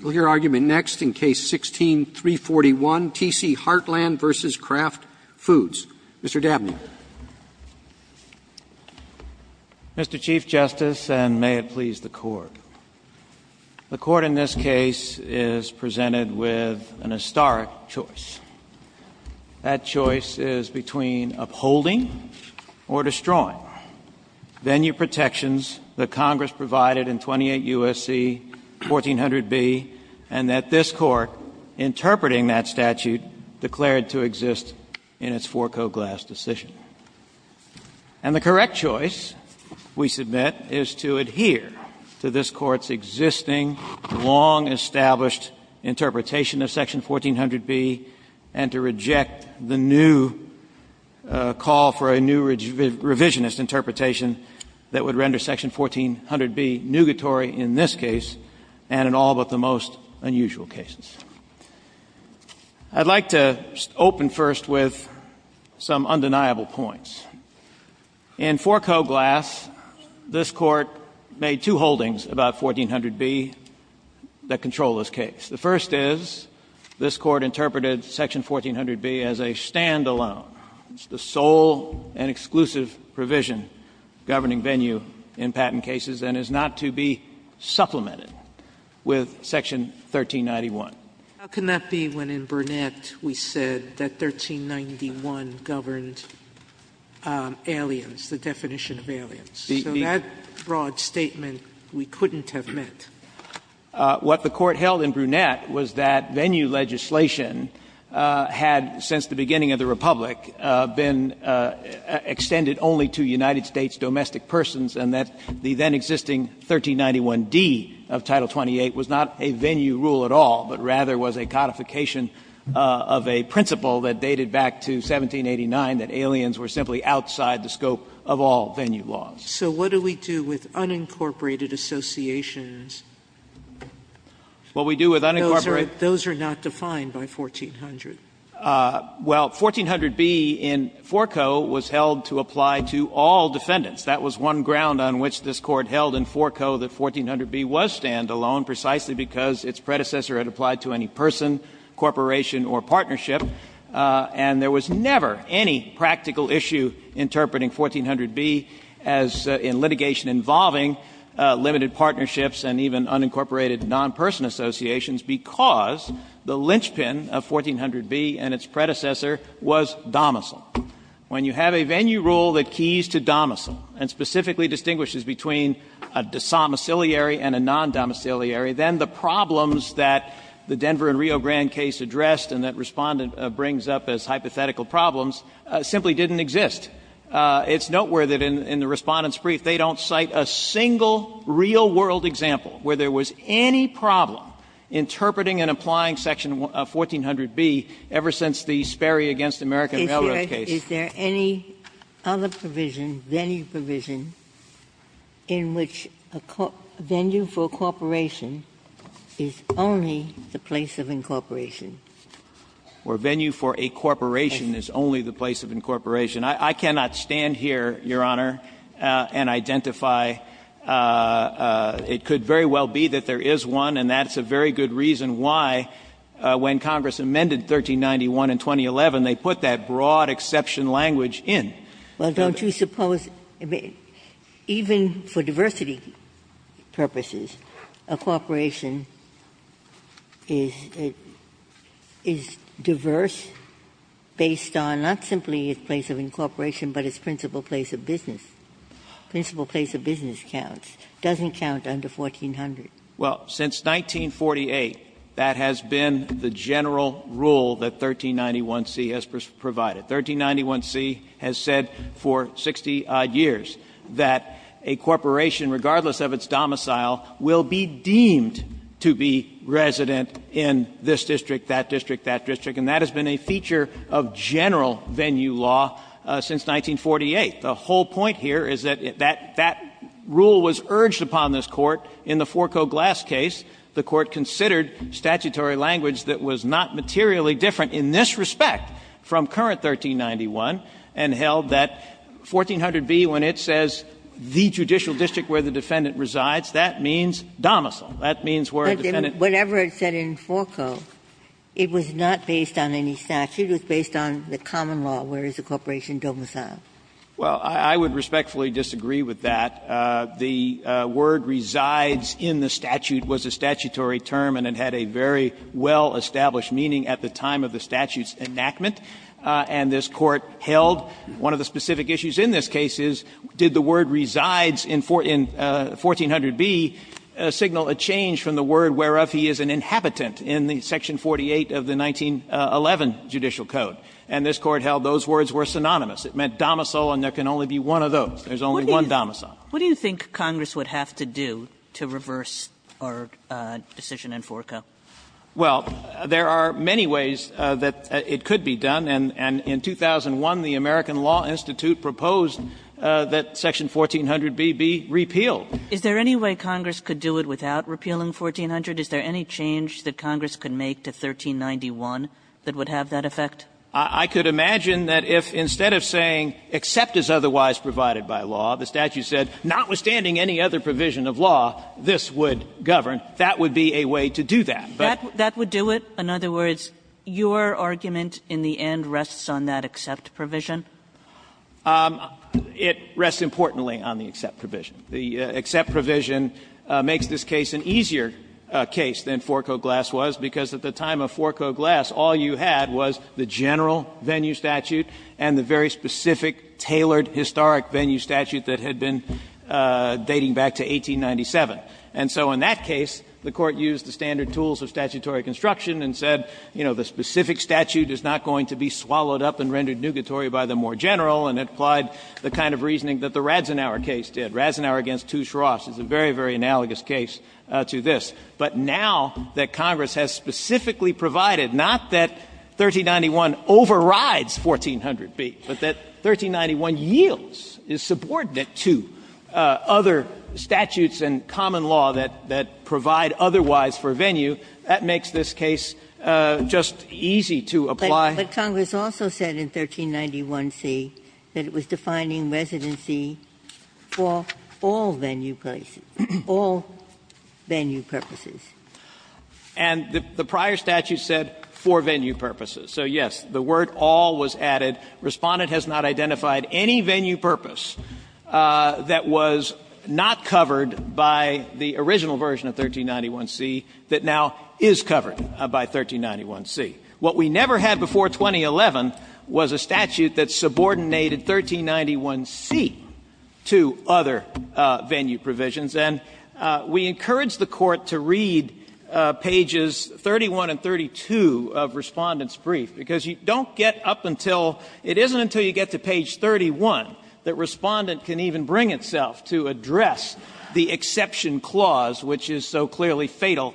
We'll hear argument next in Case 16-341, T.C. Heartland v. Kraft Foods. Mr. Dabney. Mr. Chief Justice, and may it please the Court, the Court in this case is presented with an historic choice. That choice is between upholding or destroying venue protections that Congress provided in 28 U.S.C. 1400b, and that this Court, interpreting that statute, declared to exist in its four-coat glass decision. And the correct choice, we submit, is to adhere to this Court's existing, long-established interpretation of section 1400b, and to reject the new call for a new revisionist interpretation that would render section 1400b nugatory in this case and in all but the most unusual cases. I'd like to open first with some undeniable points. In four-coat glass, this Court made two holdings about 1400b that control this case. The first is this Court interpreted section 1400b as a stand-alone, the sole and exclusive provision governing venue in patent cases, and is not to be supplemented with section 1391. Sotomayor, how can that be when in Brunette we said that 1391 governed aliens, the definition of aliens? So that broad statement we couldn't have met. What the Court held in Brunette was that venue legislation had, since the beginning of the Republic, been extended only to United States domestic persons, and that the then-existing 1391d of Title 28 was not a venue rule at all, but rather was a codification of a principle that dated back to 1789, that aliens were simply outside the scope of all venue laws. Sotomayor, so what do we do with unincorporated associations? What we do with unincorporated? Those are not defined by 1400. Well, 1400b in four-coat was held to apply to all defendants. That was one ground on which this Court held in four-coat that 1400b was stand-alone precisely because its predecessor had applied to any person, corporation, or partnership, and there was never any practical issue interpreting 1400b as in litigation involving limited partnerships and even unincorporated non-person associations because the linchpin of 1400b and its predecessor was domicile. When you have a venue rule that keys to domicile and specifically distinguishes between a domiciliary and a non-domiciliary, then the problems that the Denver and Rio Grande case addressed and that Respondent brings up as hypothetical problems simply didn't exist. It's noteworthy that in the Respondent's brief, they don't cite a single real-world example where there was any problem interpreting and applying section 1400b ever since the Sperry v. American Railroad case. Ginsburg's is there any other provision, venue provision, in which a venue for a corporation is only the place of incorporation? Or venue for a corporation is only the place of incorporation. I cannot stand here, Your Honor, and identify. It could very well be that there is one, and that's a very good reason why when Congress amended 1391 and 2011, they put that broad exception language in. Well, don't you suppose, even for diversity purposes, a corporation is diverse based on not simply its place of incorporation, but its principal place of business. Principal place of business counts, doesn't count under 1400. Well, since 1948, that has been the general rule that 1391c has provided. 1391c has said for 60-odd years that a corporation, regardless of its domicile, will be deemed to be resident in this district, that district, that district. And that has been a feature of general venue law since 1948. The whole point here is that that rule was urged upon this Court in the Forco Glass case, the Court considered statutory language that was not materially different in this respect from current 1391, and held that 1400b, when it says the judicial district where the defendant resides, that means domicile. That means where the defendant resides. Ginsburg. But whatever it said in Forco, it was not based on any statute. It was based on the common law, where is the corporation domiciled. Well, I would respectfully disagree with that. The word resides in the statute was a statutory term, and it had a very well-established meaning at the time of the statute's enactment, and this Court held one of the specific issues in this case is, did the word resides in 1400b signal a change from the word whereof he is an inhabitant in the section 48 of the 1911 judicial code? And this Court held those words were synonymous. It meant domicile, and there can only be one of those. There's only one domicile. Kagan. What do you think Congress would have to do to reverse our decision in Forco? Well, there are many ways that it could be done, and in 2001, the American Law Institute proposed that section 1400b be repealed. Is there any way Congress could do it without repealing 1400? Is there any change that Congress could make to 1391 that would have that effect? I could imagine that if, instead of saying, except as otherwise provided by law, the statute said, notwithstanding any other provision of law, this would govern, that would be a way to do that. That would do it? In other words, your argument in the end rests on that except provision? It rests, importantly, on the except provision. The except provision makes this case an easier case than Forco Glass was, because at the time of Forco Glass, all you had was the general venue statute and the very specific, tailored, historic venue statute that had been dating back to 1897. And so in that case, the Court used the standard tools of statutory construction and said, you know, the specific statute is not going to be swallowed up and rendered nugatory by the more general, and it applied the kind of reasoning that the Radzenauer case did. Radzenauer v. Touche Ross is a very, very analogous case to this. But now that Congress has specifically provided, not that 1391 overrides 1400b, but that 1391 yields, is subordinate to other statutes and common law that provide otherwise for venue, that makes this case just easy to apply. But Congress also said in 1391c that it was defining residency for all venue places, all venue purposes. And the prior statute said for venue purposes. So, yes, the word all was added. Respondent has not identified any venue purpose that was not covered by the original version of 1391c that now is covered by 1391c. What we never had before 2011 was a statute that subordinated 1391c to other venue provisions, and we encourage the Court to read pages 31 and 32 of Respondent's brief, because you don't get up until, it isn't until you get to page 31 that Respondent can even bring itself to address the exception clause, which is so clearly fatal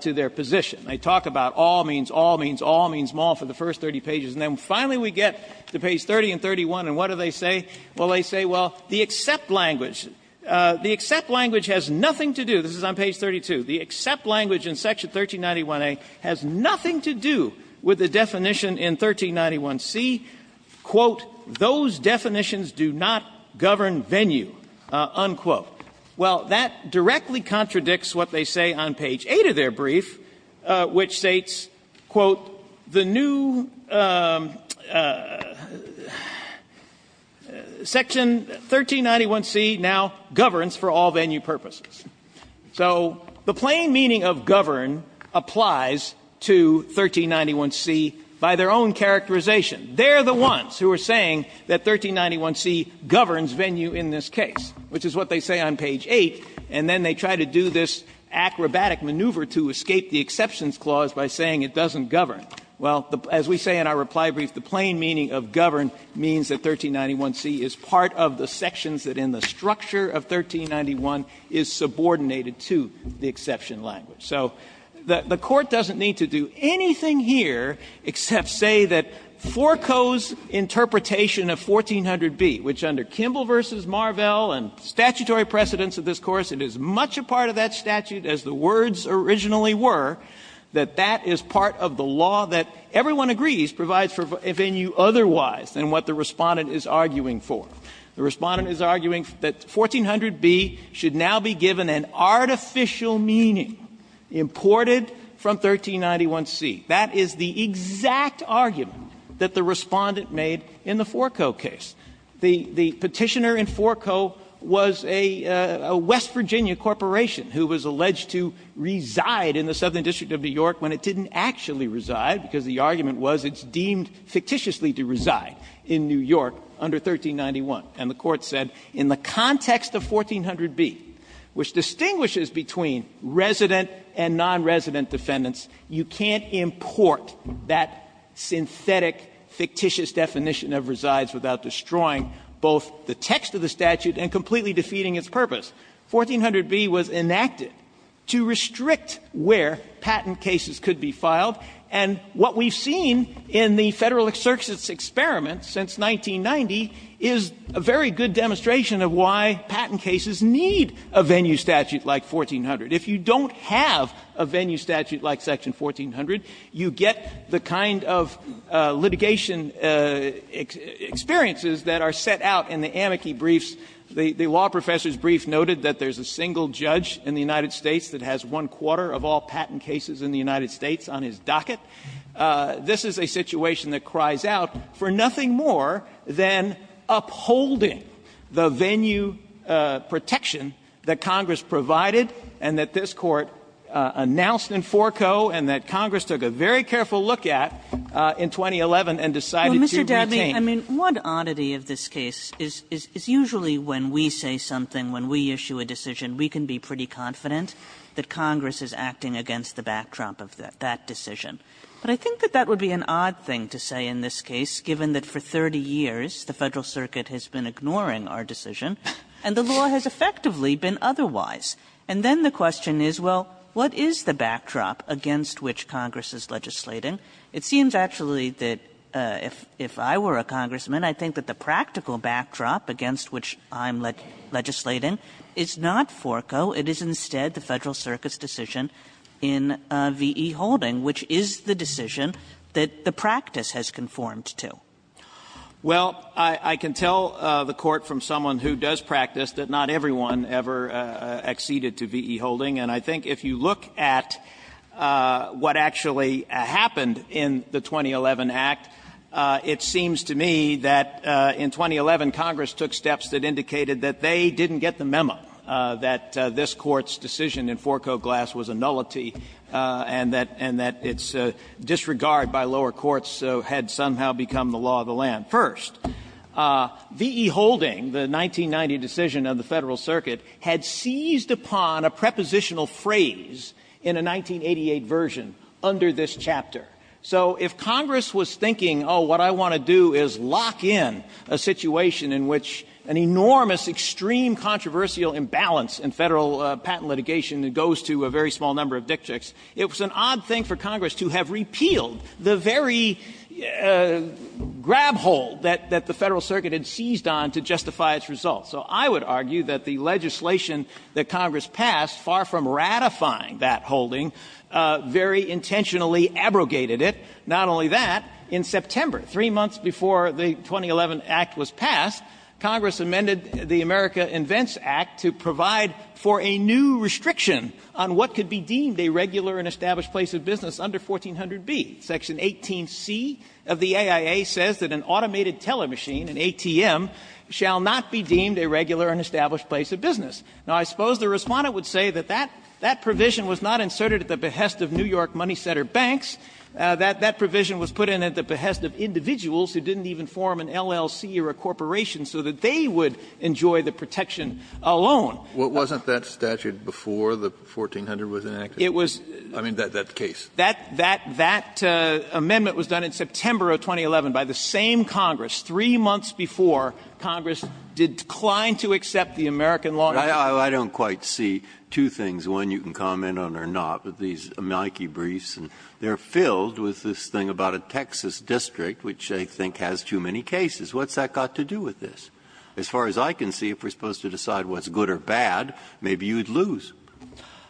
to their position. They talk about all means, all means, all means, all for the first 30 pages. And then finally we get to page 30 and 31, and what do they say? Well, they say, well, the except language, the except language has nothing to do, this is on page 32. The except language in section 1391a has nothing to do with the definition in 1391c, quote, those definitions do not govern venue, unquote. Well, that directly contradicts what they say on page 8 of their brief, which states, quote, the new section 1391c now governs for all venue purposes. So the plain meaning of govern applies to 1391c by their own characterization. They're the ones who are saying that 1391c governs venue in this case, which is what they say on page 8, and then they try to do this acrobatic maneuver to escape the exceptions clause by saying it doesn't govern. Well, as we say in our reply brief, the plain meaning of govern means that 1391c is part of the sections that in the structure of 1391 is subordinated to the exception language. So the Court doesn't need to do anything here except say that Forco's interpretation of 1400b, which under Kimball v. Marvell and statutory precedents of this course, it is much a part of that statute as the words originally were, that that is part of the law that everyone agrees provides for venue otherwise than what the Respondent is arguing for. The Respondent is arguing that 1400b should now be given an artificial meaning imported from 1391c. That is the exact argument that the Respondent made in the Forco case. The Petitioner in Forco was a West Virginia corporation who was alleged to reside in the Southern District of New York when it didn't actually reside because the argument was it's deemed fictitiously to reside in New York under 1391. And the Court said in the context of 1400b, which distinguishes between resident and nonresident defendants, you can't import that synthetic, fictitious definition of resides without destroying both the text of the statute and completely defeating its purpose. 1400b was enacted to restrict where patent cases could be filed, and what we've seen in the Federal exercise experiment since 1990 is a very good demonstration of why patent cases need a venue statute like 1400. If you don't have a venue statute like section 1400, you get the kind of litigation experiences that are set out in the amici briefs. The law professor's brief noted that there's a single judge in the United States that has one-quarter of all patent cases in the United States on his docket. This is a situation that cries out for nothing more than upholding the venue protection that Congress provided and that this Court announced in Forco and that Congress took a very careful look at in 2011 and decided to retain. Kagan. Kagan. I mean, one oddity of this case is usually when we say something, when we issue a decision, we can be pretty confident that Congress is acting against the backdrop of that decision. But I think that that would be an odd thing to say in this case, given that for 30 years the Federal Circuit has been ignoring our decision and the law has effectively been otherwise. And then the question is, well, what is the backdrop against which Congress is legislating? It seems actually that if I were a congressman, I think that the practical backdrop against which I'm legislating is not Forco. It is instead the Federal Circuit's decision in V.E. Holding, which is the decision that the practice has conformed to. Well, I can tell the Court from someone who does practice that not everyone ever acceded to V.E. Holding. And I think if you look at what actually happened in the 2011 Act, it seems to me that in 2011 Congress took steps that indicated that they didn't get the memo, that they didn't get that this Court's decision in Forco Glass was a nullity, and that its disregard by lower courts had somehow become the law of the land. First, V.E. Holding, the 1990 decision of the Federal Circuit, had seized upon a prepositional phrase in a 1988 version under this chapter. So if Congress was thinking, oh, what I want to do is lock in a situation in which an enormous, extreme, controversial imbalance in Federal patent litigation goes to a very small number of dictrics, it was an odd thing for Congress to have repealed the very grab hold that the Federal Circuit had seized on to justify its results. So I would argue that the legislation that Congress passed, far from ratifying that holding, very intentionally abrogated it, not only that, in September, 3 months before the 2011 Act was passed, Congress amended the America Invents Act to provide for a new restriction on what could be deemed a regular and established place of business under 1400B. Section 18C of the AIA says that an automated telemachine, an ATM, shall not be deemed a regular and established place of business. Now, I suppose the Respondent would say that that provision was not inserted at the behest of New York Money Center banks, that that provision was put in at the behest of individuals who didn't even form an LLC or a corporation so that they would enjoy the protection alone. Kennedy, What wasn't that statute before the 1400 was enacted? I mean, that case. Waxman, That amendment was done in September of 2011 by the same Congress, 3 months before Congress declined to accept the American law. Breyer, I don't quite see two things, one you can comment on or not, but these amalgam debriefs, they are filled with this thing about a Texas district, which I think has too many cases. What's that got to do with this? As far as I can see, if we are supposed to decide what's good or bad, maybe you would lose.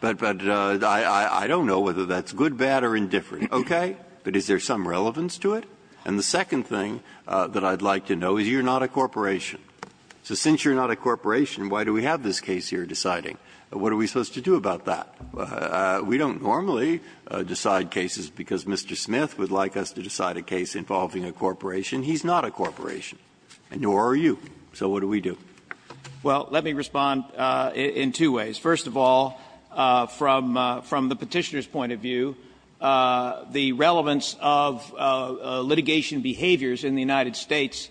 But I don't know whether that's good, bad, or indifferent, okay? But is there some relevance to it? And the second thing that I would like to know is you are not a corporation. So since you are not a corporation, why do we have this case here deciding? What are we supposed to do about that? We don't normally decide cases because Mr. Smith would like us to decide a case involving a corporation. He's not a corporation, and nor are you. So what do we do? Well, let me respond in two ways. First of all, from the Petitioner's point of view, the relevance of litigation behaviors in the United States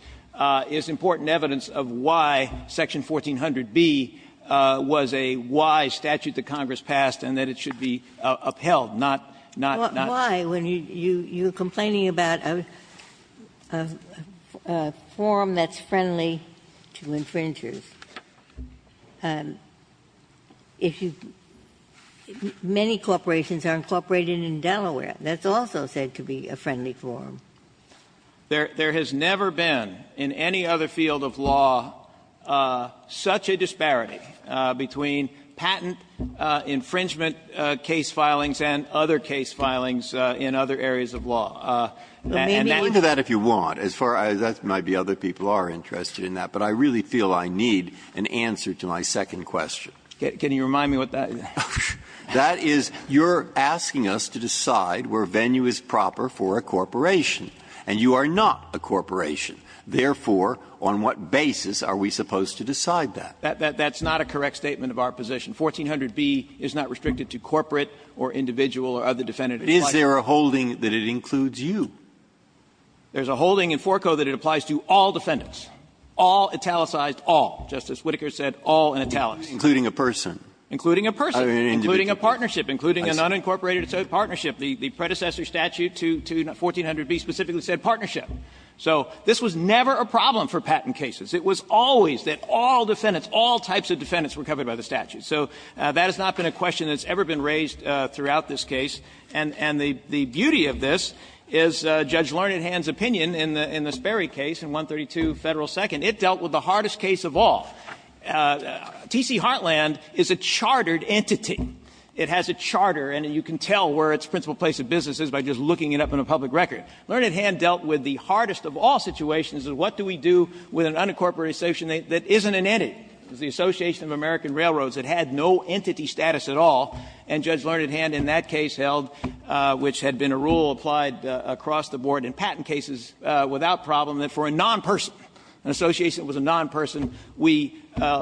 is important evidence of why section 1400b was a wise statute that Congress passed and that it should be upheld, not not not. Why, when you're complaining about a forum that's friendly to infringers? Many corporations are incorporated in Delaware. That's also said to be a friendly forum. There has never been, in any other field of law, such a disparity between patent infringement case filings and other case filings in other areas of law. And that is. Breyer. Breyer. You can go into that if you want. As far as that might be, other people are interested in that. But I really feel I need an answer to my second question. Can you remind me what that is? That is, you're asking us to decide where venue is proper for a corporation, and you are not a corporation. Therefore, on what basis are we supposed to decide that? That's not a correct statement of our position. 1400B is not restricted to corporate or individual or other defendant. But is there a holding that it includes you? There's a holding in Forco that it applies to all defendants, all, italicized all, just as Whittaker said, all in italics. Including a person. Including a person. Including a partnership, including an unincorporated partnership. The predecessor statute to 1400B specifically said partnership. So this was never a problem for patent cases. It was always that all defendants, all types of defendants were covered by the statute. So that has not been a question that's ever been raised throughout this case. And the beauty of this is Judge Learned Hand's opinion in the Sperry case in 132 Federal 2nd. It dealt with the hardest case of all. T.C. Heartland is a chartered entity. It has a charter, and you can tell where its principal place of business is by just looking it up in a public record. Learned Hand dealt with the hardest of all situations of what do we do with an unincorporated association that isn't an entity. It was the Association of American Railroads that had no entity status at all, and Judge Learned Hand in that case held, which had been a rule applied across the board in patent cases without problem, that for a nonperson, an association that was a nonperson, we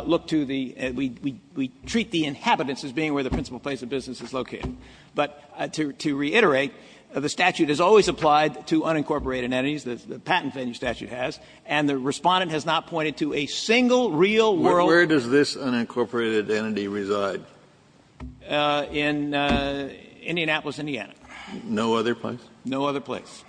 look to the we treat the inhabitants as being where the principal place of business is located. But to reiterate, the statute has always applied to unincorporated entities. The patent statute has. And the Respondent has not pointed to a single real world Where does this unincorporated entity reside? In Indianapolis, Indiana. No other place? No other place.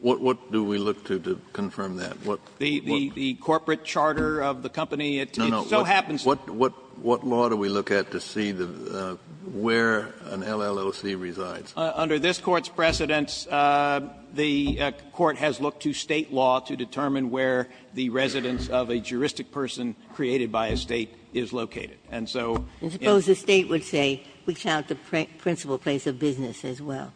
What do we look to to confirm that? The corporate charter of the company. It so happens What law do we look at to see where an LLC resides? Under this Court's precedence, the Court has looked to State law to determine where the residence of a juristic person created by a State is located. And so I suppose the State would say we count the principal place of business as well.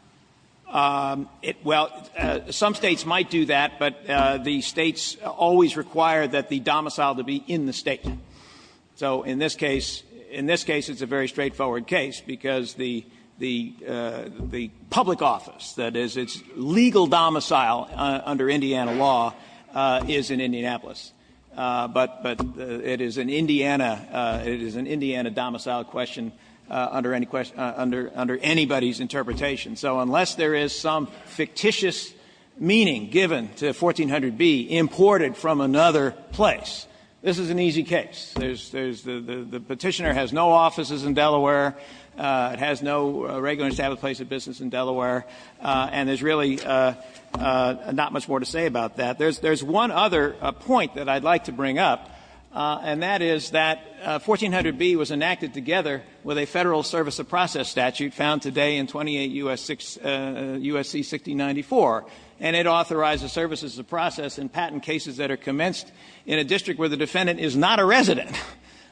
Well, some States might do that, but the States always require that the domicile to be in the State. So in this case, in this case, it's a very straightforward case, because the public office, that is, its legal domicile under Indiana law is in Indianapolis. But it is an Indiana domicile question under anybody's interpretation. So unless there is some fictitious meaning given to 1400B, imported from another place, this is an easy case. The petitioner has no offices in Delaware. It has no regular established place of business in Delaware. And there's really not much more to say about that. There's one other point that I'd like to bring up, and that is that 1400B was enacted together with a federal service of process statute, found today in 28 U.S.C. 6094. And it authorizes services of process in patent cases that are commenced in a district where the defendant is not a resident,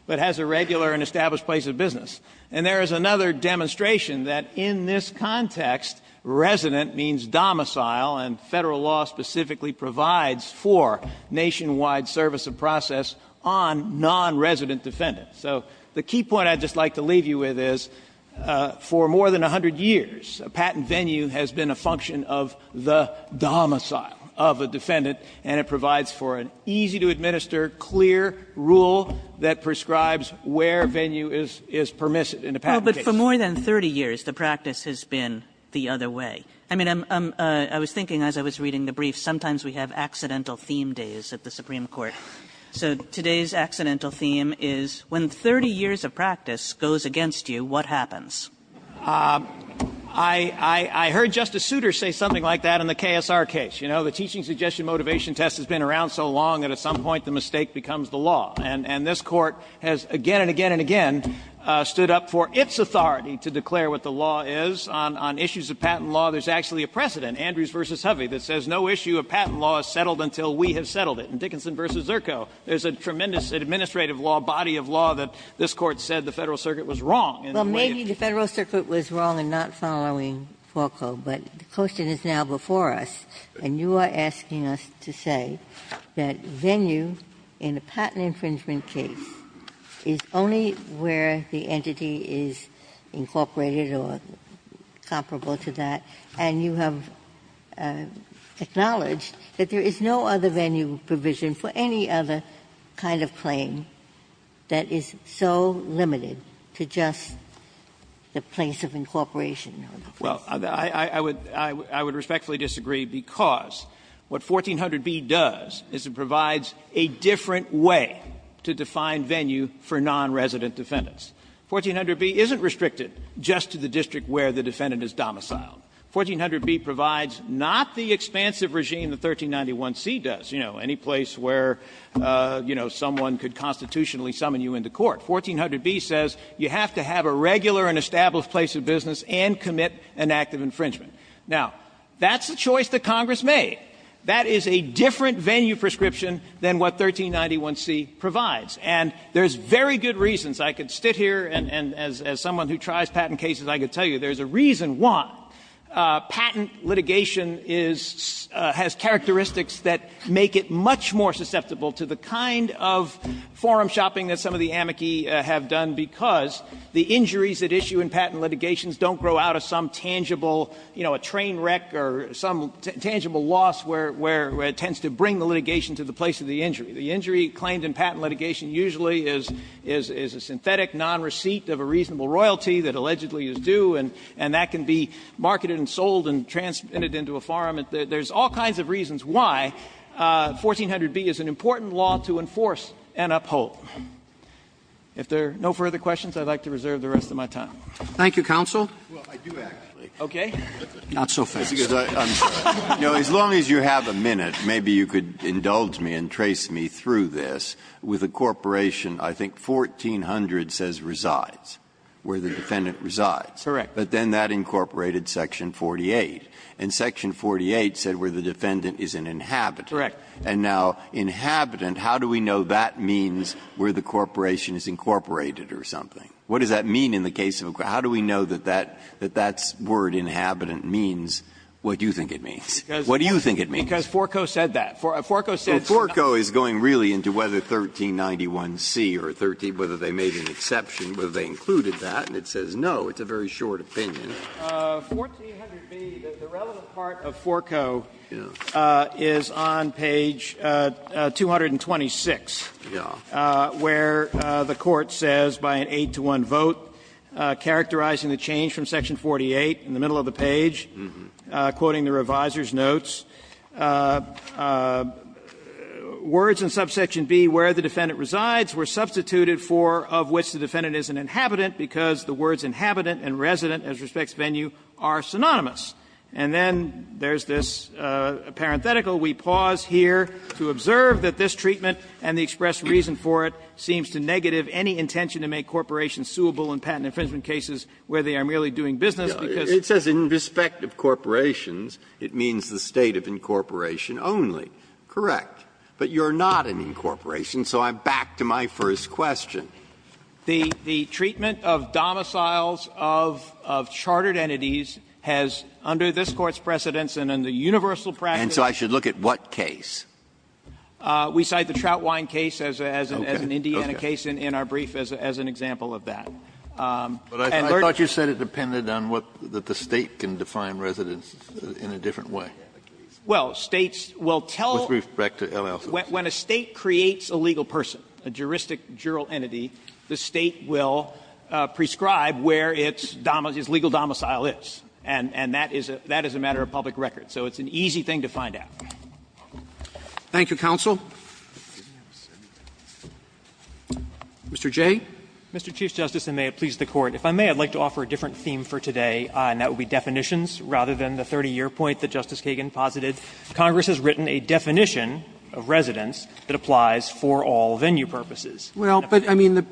but has a regular and established place of business. And there is another demonstration that in this context, resident means domicile, and federal law specifically provides for nationwide service of process on non-resident defendants. So the key point I'd just like to leave you with is, for more than 100 years, a patent venue has been a function of the domicile of a defendant, and it provides for an easy to administer, clear rule that prescribes where venue is permissive in a patent case. But for more than 30 years, the practice has been the other way. I mean, I was thinking as I was reading the brief, sometimes we have accidental theme days at the Supreme Court. So today's accidental theme is, when 30 years of practice goes against you, what happens? I heard Justice Souter say something like that in the KSR case. You know, the teaching suggestion motivation test has been around so long that at some point the mistake becomes the law. And this court has again and again and again stood up for its authority to declare what the law is. On issues of patent law, there's actually a precedent, Andrews versus Hovey, that says no issue of patent law is settled until we have settled it. In Dickinson versus Zirko, there's a tremendous administrative law, body of law that this court said the Federal Circuit was wrong in the way it- The Federal Circuit was wrong in not following FALCO, but the question is now before us. And you are asking us to say that venue in a patent infringement case is only where the entity is incorporated or comparable to that. And you have acknowledged that there is no other venue provision for any other kind of claim that is so limited to just the place of incorporation. Well, I would respectfully disagree, because what 1400b does is it provides a different way to define venue for nonresident defendants. 1400b isn't restricted just to the district where the defendant is domiciled. 1400b provides not the expansive regime the 1391c does, you know, any place where, you know, someone could constitutionally summon you into court. 1400b says you have to have a regular and established place of business and commit an act of infringement. Now, that's a choice that Congress made. That is a different venue prescription than what 1391c provides. And there's very good reasons. I could sit here and as someone who tries patent cases, I could tell you there's a reason why patent litigation has characteristics that make it much more susceptible to the kind of forum shopping that some of the amici have done, because the injuries that issue in patent litigations don't grow out of some tangible, you know, a train wreck or some tangible loss where it tends to bring the litigation to the place of the injury. The injury claimed in patent litigation usually is a synthetic non-receipt of a reasonable royalty that allegedly is due, and that can be marketed and sold and transmitted into a forum. There's all kinds of reasons why 1400b is an important law to enforce and uphold. If there are no further questions, I would like to reserve the rest of my time. Roberts. Thank you, counsel. Breyer. Well, I do, actually. Okay. Not so fast. As long as you have a minute, maybe you could indulge me and trace me through this. With a corporation, I think 1400 says resides, where the defendant resides. Correct. But then that incorporated section 48. And section 48 said where the defendant is an inhabitant. Correct. And now, inhabitant, how do we know that means where the corporation is incorporated or something? What does that mean in the case of a corporation? How do we know that that's word, inhabitant, means what you think it means? What do you think it means? Because Forco said that. Forco said that. Well, Forco is going really into whether 1391c or 13, whether they made an exception, whether they included that, and it says no. It's a very short opinion. 1400b, the relevant part of Forco is on page 226, where the Court says, by an 8-to-1 vote, characterizing the change from section 48, in the middle of the page, quoting the reviser's notes, words in subsection b, where the defendant resides, were substituted for, of which the defendant is an inhabitant, because the words inhabitant and resident, as respects venue, are synonymous. And then there's this parenthetical. We pause here to observe that this treatment and the express reason for it seems to negative any intention to make corporations suable in patent infringement cases where they are merely doing business, because it says in respect of corporations it means the state of incorporation only. Correct. But you're not an incorporation. So I'm back to my first question. The treatment of domiciles of chartered entities has, under this Court's precedence and under universal practice. And so I should look at what case? We cite the Troutwine case as an Indiana case in our brief as an example of that. And thirdly the case in our brief as an example of that. But I thought you said it depended on what the State can define residents in a different way. Well, States will tell us. With respect to LLCs. When a State creates a legal person, a juristic, jural entity, the State will prescribe where its legal domicile is. And that is a matter of public record. So it's an easy thing to find out. Thank you, counsel. Mr. Jay. Mr. Chief Justice, and may it please the Court, if I may, I'd like to offer a different theme for today, and that would be definitions rather than the 30-year point that Justice Kagan posited. Congress has written a definition of residence that applies for all venue purposes. Well, but I mean,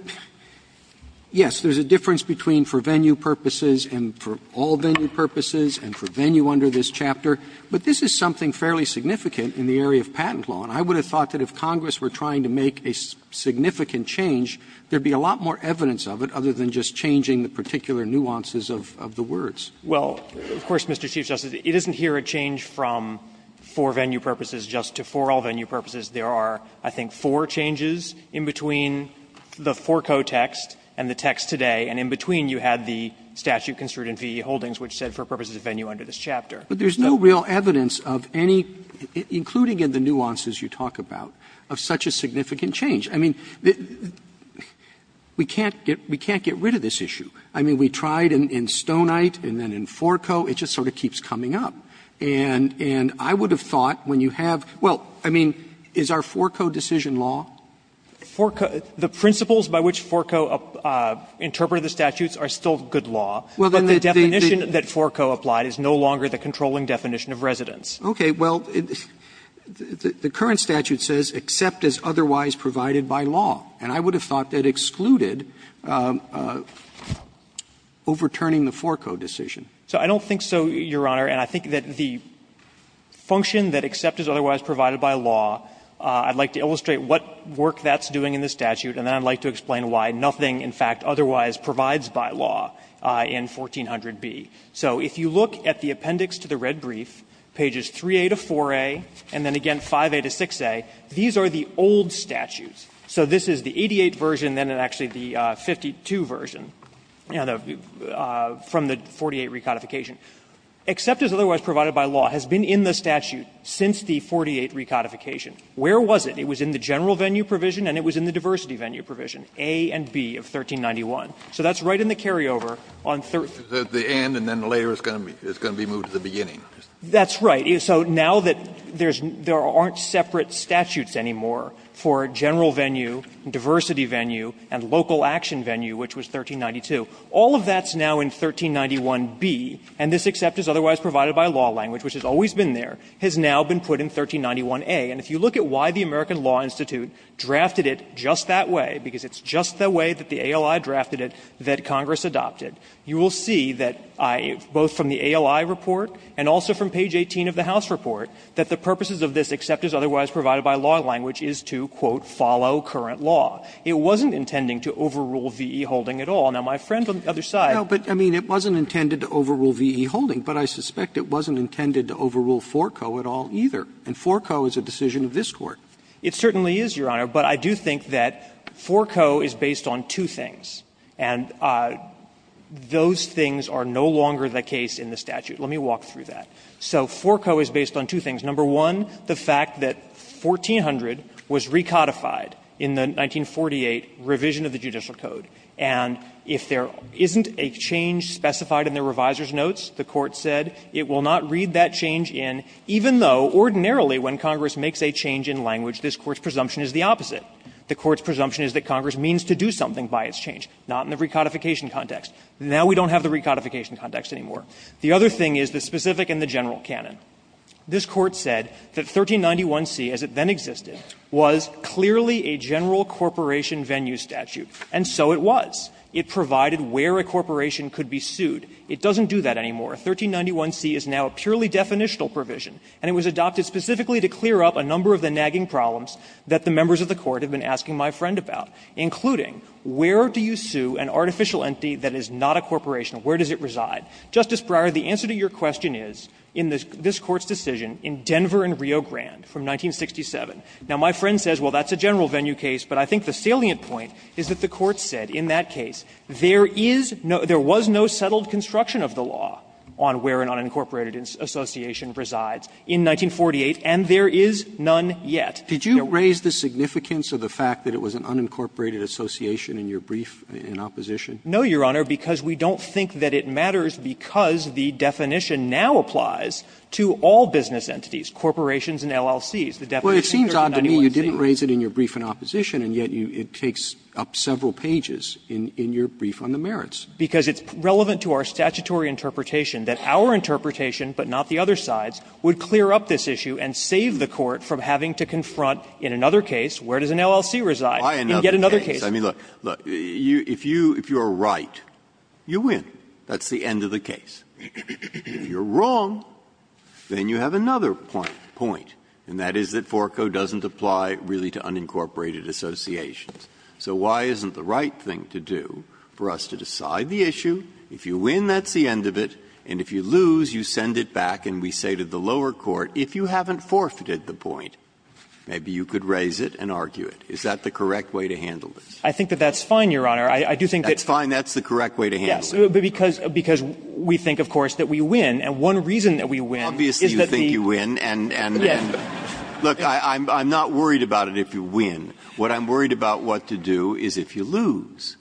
yes, there's a difference between for venue purposes and for all venue purposes and for venue under this chapter. But this is something fairly significant in the area of patent law. And I would have thought that if Congress were trying to make a significant change, there would be a lot more evidence of it other than just changing the particular nuances of the words. Well, of course, Mr. Chief Justice, it isn't here a change from for venue purposes just to for all venue purposes. There are, I think, four changes in between the forco text and the text today, and in between you had the statute construed in V.E. Holdings which said for purposes of venue under this chapter. But there's no real evidence of any, including in the nuances you talk about, of such a significant change. I mean, we can't get rid of this issue. I mean, we tried in Stonite and then in forco. It just sort of keeps coming up. And I would have thought when you have – well, I mean, is our forco decision law? The principles by which forco interpreted the statutes are still good law. But the definition that forco applied is no longer the controlling definition of residence. Okay. Well, the current statute says except as otherwise provided by law. And I would have thought that excluded overturning the forco decision. So I don't think so, Your Honor. And I think that the function that except as otherwise provided by law, I'd like to illustrate what work that's doing in the statute, and then I'd like to explain why nothing, in fact, otherwise provides by law in 1400b. So if you look at the appendix to the red brief, pages 3a to 4a, and then again 5a to 6a, these are the old statutes. So this is the 88 version, then actually the 52 version, you know, from the 48 recodification. Except as otherwise provided by law has been in the statute since the 48 recodification. Where was it? It was in the general venue provision and it was in the diversity venue provision, A and B of 1391. So that's right in the carryover on 1391. Kennedy, and then later it's going to be moved to the beginning. That's right. So now that there aren't separate statutes anymore for general venue, diversity venue, and local action venue, which was 1392, all of that's now in 1391b, and this except as otherwise provided by law language, which has always been there, has now been put in 1391a. And if you look at why the American Law Institute drafted it just that way, because it's just the way that the ALI drafted it that Congress adopted, you will see that I, both from the ALI report and also from page 18 of the House report, that the purposes of this except as otherwise provided by law language is to, quote, follow current law. It wasn't intending to overrule V.E. Holding at all. Now, my friend on the other side. Roberts, I mean, it wasn't intended to overrule V.E. Holding, but I suspect it wasn't intended to overrule Forco at all either. And Forco is a decision of this Court. It certainly is, Your Honor, but I do think that Forco is based on two things. And those things are no longer the case in the statute. Let me walk through that. So Forco is based on two things. Number one, the fact that 1400 was recodified in the 1948 revision of the Judicial Code, and if there isn't a change specified in the reviser's notes, the Court said it will not read that change in, even though ordinarily when Congress makes a change in language, this Court's presumption is the opposite. The Court's presumption is that Congress means to do something by its change, not in the recodification context. Now we don't have the recodification context anymore. The other thing is the specific and the general canon. This Court said that 1391c, as it then existed, was clearly a general corporation venue statute, and so it was. It provided where a corporation could be sued. It doesn't do that anymore. 1391c is now a purely definitional provision, and it was adopted specifically to clear up a number of the nagging problems that the members of the Court have been asking my friend about, including where do you sue an artificial entity that is not a corporation, where does it reside. Justice Breyer, the answer to your question is, in this Court's decision, in Denver and Rio Grande from 1967. Now, my friend says, well, that's a general venue case, but I think the salient point is that the Court said in that case there is no – there was no settled construction of the law on where an unincorporated association resides in 1948, and there is none yet. Roberts. Did you raise the significance of the fact that it was an unincorporated association in your brief in opposition? No, Your Honor, because we don't think that it matters because the definition now applies to all business entities, corporations and LLCs. The definition is 1391c. Well, it seems odd to me you didn't raise it in your brief in opposition, and yet it takes up several pages in your brief on the merits. Because it's relevant to our statutory interpretation that our interpretation, but not the other side's, would clear up this issue and save the Court from having to confront in another case, where does an LLC reside, and get another case. Breyer, I mean, look, look, if you're right, you win. That's the end of the case. If you're wrong, then you have another point, and that is that Forco doesn't apply really to unincorporated associations. So why isn't the right thing to do for us to decide the issue? If you win, that's the end of it, and if you lose, you send it back, and we say to the lower court, if you haven't forfeited the point, maybe you could raise it and argue it. Is that the correct way to handle this? I think that that's fine, Your Honor. I do think that's fine. That's the correct way to handle it. Yes, but because we think, of course, that we win, and one reason that we win is that the the. Obviously, you think you win, and look, I'm not worried about it if you win. What I'm worried about what to do is if you lose.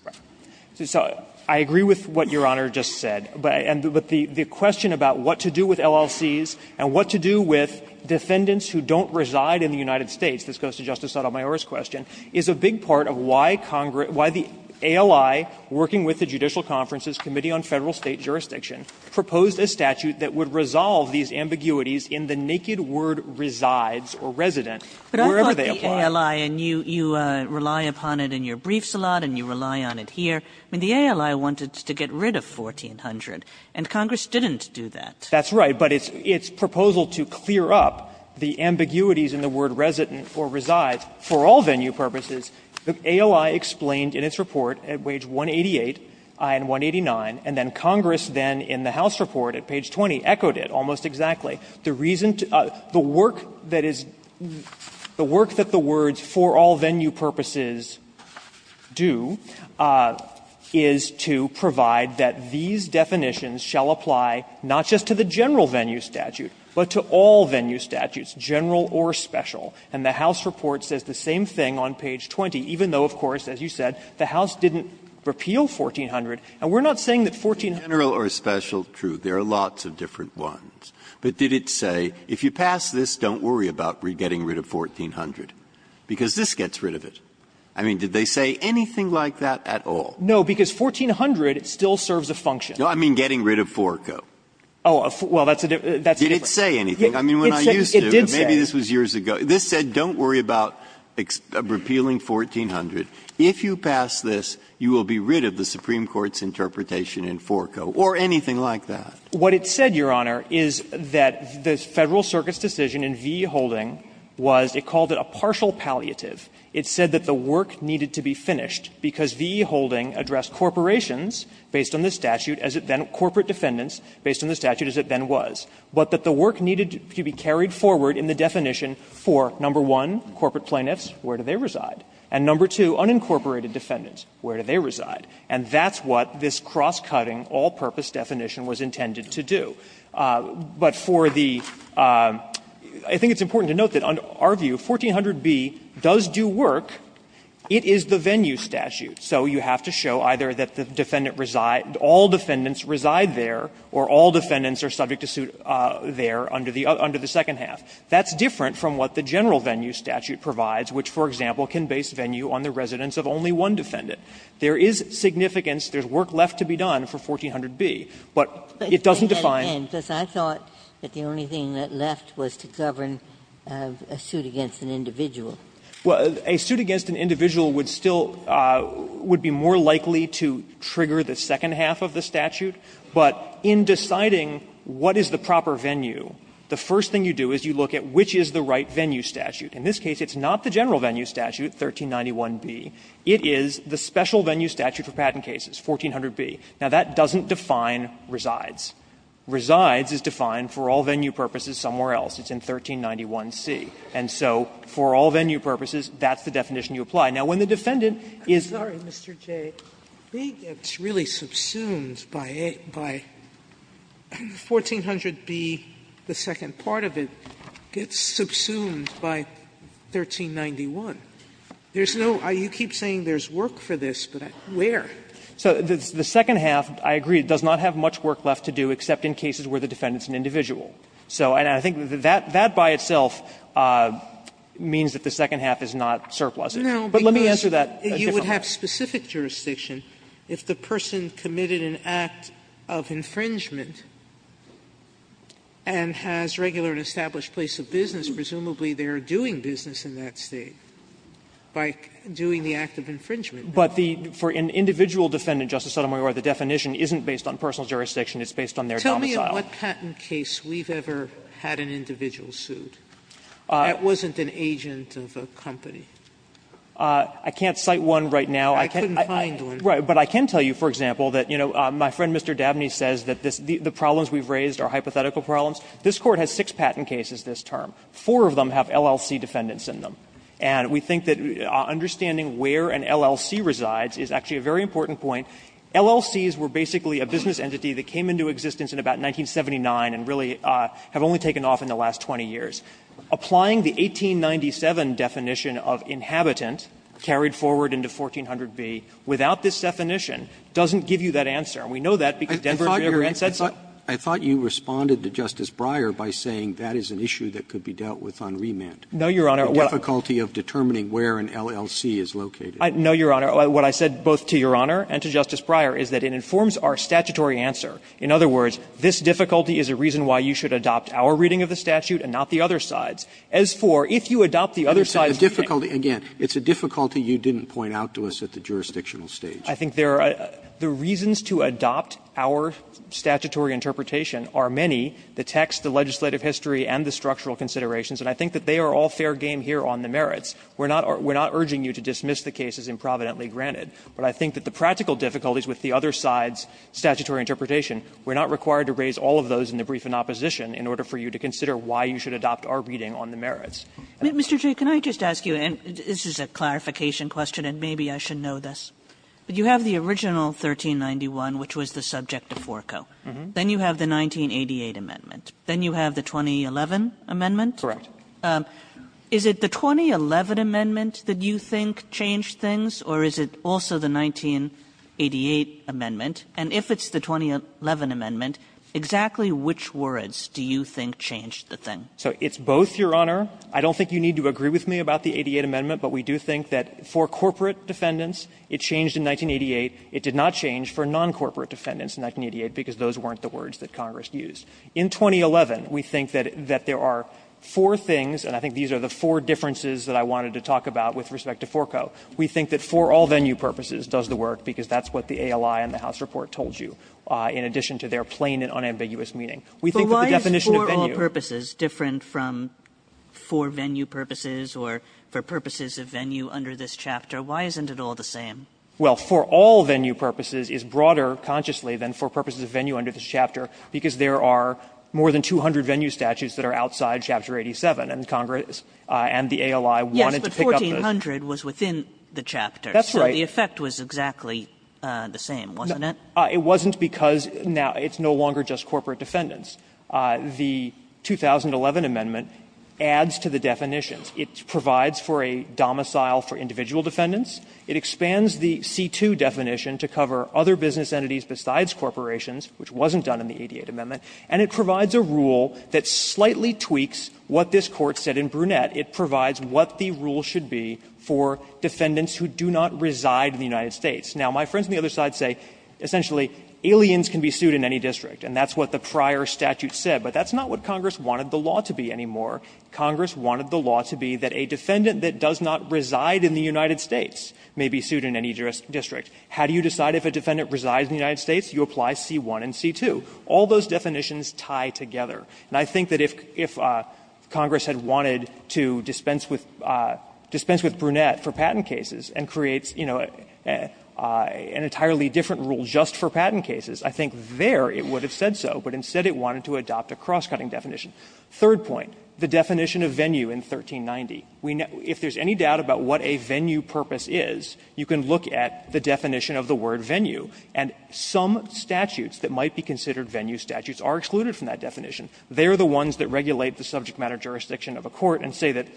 So I agree with what Your Honor just said, but the question about what to do with LLCs and what to do with defendants who don't reside in the United States, this goes to Justice Sotomayor's question, is a big part of why Congress, why the ALI, working with the Judicial Conferences Committee on Federal State Jurisdiction, proposed a statute that would resolve these ambiguities in the naked word resides or resident, wherever they apply. Kagan. And you rely upon it in your briefs a lot, and you rely on it here. I mean, the ALI wanted to get rid of 1400, and Congress didn't do that. That's right. But its proposal to clear up the ambiguities in the word resident or resides, for all venue purposes, the ALI explained in its report at page 188 and 189, and then Congress then in the House report at page 20 echoed it almost exactly. The reason to the work that is, the work that the words for all venue purposes do is to provide that these definitions shall apply not just to the general venue statute, but to all venue statutes, general or special. And the House report says the same thing on page 20, even though, of course, as you said, the House didn't repeal 1400. And we're not saying that 1400. Breyer. General or special, true, there are lots of different ones. But did it say, if you pass this, don't worry about getting rid of 1400, because this gets rid of it? I mean, did they say anything like that at all? No, because 1400 still serves a function. No, I mean getting rid of forco. Oh, well, that's a different question. Did it say anything? I mean, when I used to, maybe this was years ago, this said don't worry about repealing 1400. If you pass this, you will be rid of the Supreme Court's interpretation in forco, or anything like that. What it said, Your Honor, is that the Federal Circuit's decision in V.E. Holding was, it called it a partial palliative. It said that the work needed to be finished, because V.E. Holding addressed corporations based on the statute as it then, corporate defendants based on the statute as it then was, but that the work needed to be carried forward in the definition for, number one, corporate plaintiffs, where do they reside? And number two, unincorporated defendants, where do they reside? And that's what this cross-cutting, all-purpose definition was intended to do. But for the – I think it's important to note that under our view, 1400b does do work. It is the venue statute, so you have to show either that the defendant resides – all defendants reside there, or all defendants are subject to suit there under the second half. That's different from what the general venue statute provides, which, for example, can base venue on the residence of only one defendant. There is significance. There's work left to be done for 1400b. But it doesn't define. Ginsburg. But I thought that the only thing that left was to govern a suit against an individual. Well, a suit against an individual would still – would be more likely to trigger the second half of the statute, but in deciding what is the proper venue, the first thing you do is you look at which is the right venue statute. In this case, it's not the general venue statute, 1391b. It is the special venue statute for patent cases, 1400b. Now, that doesn't define resides. Resides is defined for all venue purposes somewhere else. It's in 1391c. And so for all venue purposes, that's the definition you apply. Now, when the defendant is – Sotomayor gets subsumed by 1400b, the second part of it, gets subsumed by 1391. There's no – you keep saying there's work for this, but where? So the second half, I agree, does not have much work left to do except in cases where the defendant is an individual. So I think that that by itself means that the second half is not surplusage. But let me answer that differently. Sotomayor, you would have specific jurisdiction if the person committed an act of infringement and has regular and established place of business. Presumably, they are doing business in that State by doing the act of infringement. But the – for an individual defendant, Justice Sotomayor, the definition isn't based on personal jurisdiction. It's based on their domicile. Tell me in what patent case we've ever had an individual sued that wasn't an agent of a company. I can't cite one right now. I can't. I couldn't find one. Right. But I can tell you, for example, that, you know, my friend Mr. Dabney says that the problems we've raised are hypothetical problems. This Court has six patent cases this term. Four of them have LLC defendants in them. And we think that understanding where an LLC resides is actually a very important point. LLCs were basically a business entity that came into existence in about 1979 and really have only taken off in the last 20 years. Applying the 1897 definition of inhabitant carried forward into 1400b without this definition doesn't give you that answer. And we know that because Denver J. Abrams said so. Roberts. Roberts. I thought you responded to Justice Breyer by saying that is an issue that could be dealt with on remand. No, Your Honor. The difficulty of determining where an LLC is located. No, Your Honor. What I said both to Your Honor and to Justice Breyer is that it informs our statutory answer. In other words, this difficulty is a reason why you should adopt our reading of the other sides. As for if you adopt the other side's reading. Again, it's a difficulty you didn't point out to us at the jurisdictional stage. I think there are the reasons to adopt our statutory interpretation are many, the text, the legislative history, and the structural considerations, and I think that they are all fair game here on the merits. We're not urging you to dismiss the cases improvidently granted, but I think that the practical difficulties with the other side's statutory interpretation, we're not required to raise all of those in the brief in opposition in order for you to consider why you should adopt our reading on the merits. Kagan. Kagan. And this is a clarification question, and maybe I should know this, but you have the original 1391, which was the subject of Forko. Then you have the 1988 amendment. Then you have the 2011 amendment? Correct. Is it the 2011 amendment that you think changed things, or is it also the 1988 amendment? And if it's the 2011 amendment, exactly which words do you think changed the thing? So it's both, Your Honor. I don't think you need to agree with me about the 88 amendment, but we do think that for corporate defendants, it changed in 1988. It did not change for non-corporate defendants in 1988, because those weren't the words that Congress used. In 2011, we think that there are four things, and I think these are the four differences that I wanted to talk about with respect to Forko. We think that for all venue purposes does the work, because that's what the ALI and the House report told you, in addition to their plain and unambiguous meaning. We think that the definition of venue But why is for all purposes different from for venue purposes or for purposes of venue under this chapter? Why isn't it all the same? Well, for all venue purposes is broader consciously than for purposes of venue under this chapter, because there are more than 200 venue statutes that are outside Chapter 87, and Congress and the ALI wanted to pick up the Yes, but 1400 was within the chapter. That's right. So the effect was exactly the same. It wasn't because now it's no longer just corporate defendants. The 2011 amendment adds to the definitions. It provides for a domicile for individual defendants. It expands the C-2 definition to cover other business entities besides corporations, which wasn't done in the 88 amendment. And it provides a rule that slightly tweaks what this Court said in Brunette. It provides what the rule should be for defendants who do not reside in the United States. Now, my friends on the other side say, essentially, aliens can be sued in any district. And that's what the prior statute said. But that's not what Congress wanted the law to be anymore. Congress wanted the law to be that a defendant that does not reside in the United States may be sued in any district. How do you decide if a defendant resides in the United States? You apply C-1 and C-2. All those definitions tie together. And I think that if Congress had wanted to dispense with Brunette for patent cases and create, you know, an entirely different rule just for patent cases, I think there it would have said so. But instead it wanted to adopt a cross-cutting definition. Third point, the definition of venue in 1390. If there's any doubt about what a venue purpose is, you can look at the definition of the word venue. And some statutes that might be considered venue statutes are excluded from that definition. They are the ones that regulate the subject matter jurisdiction of a court and say that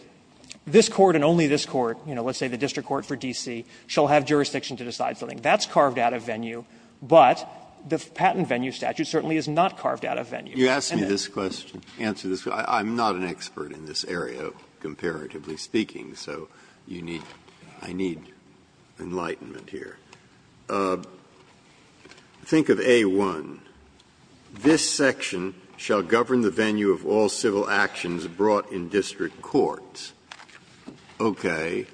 this court and only this court, you know, let's say the district court for D.C., shall have jurisdiction to decide something. That's carved out of venue, but the patent venue statute certainly is not carved out of venue. Breyer, You asked me this question, answer this question. I'm not an expert in this area, comparatively speaking, so you need to, I need enlightenment here. Think of A-1. This section shall govern the venue of all civil actions brought in district courts. Okay.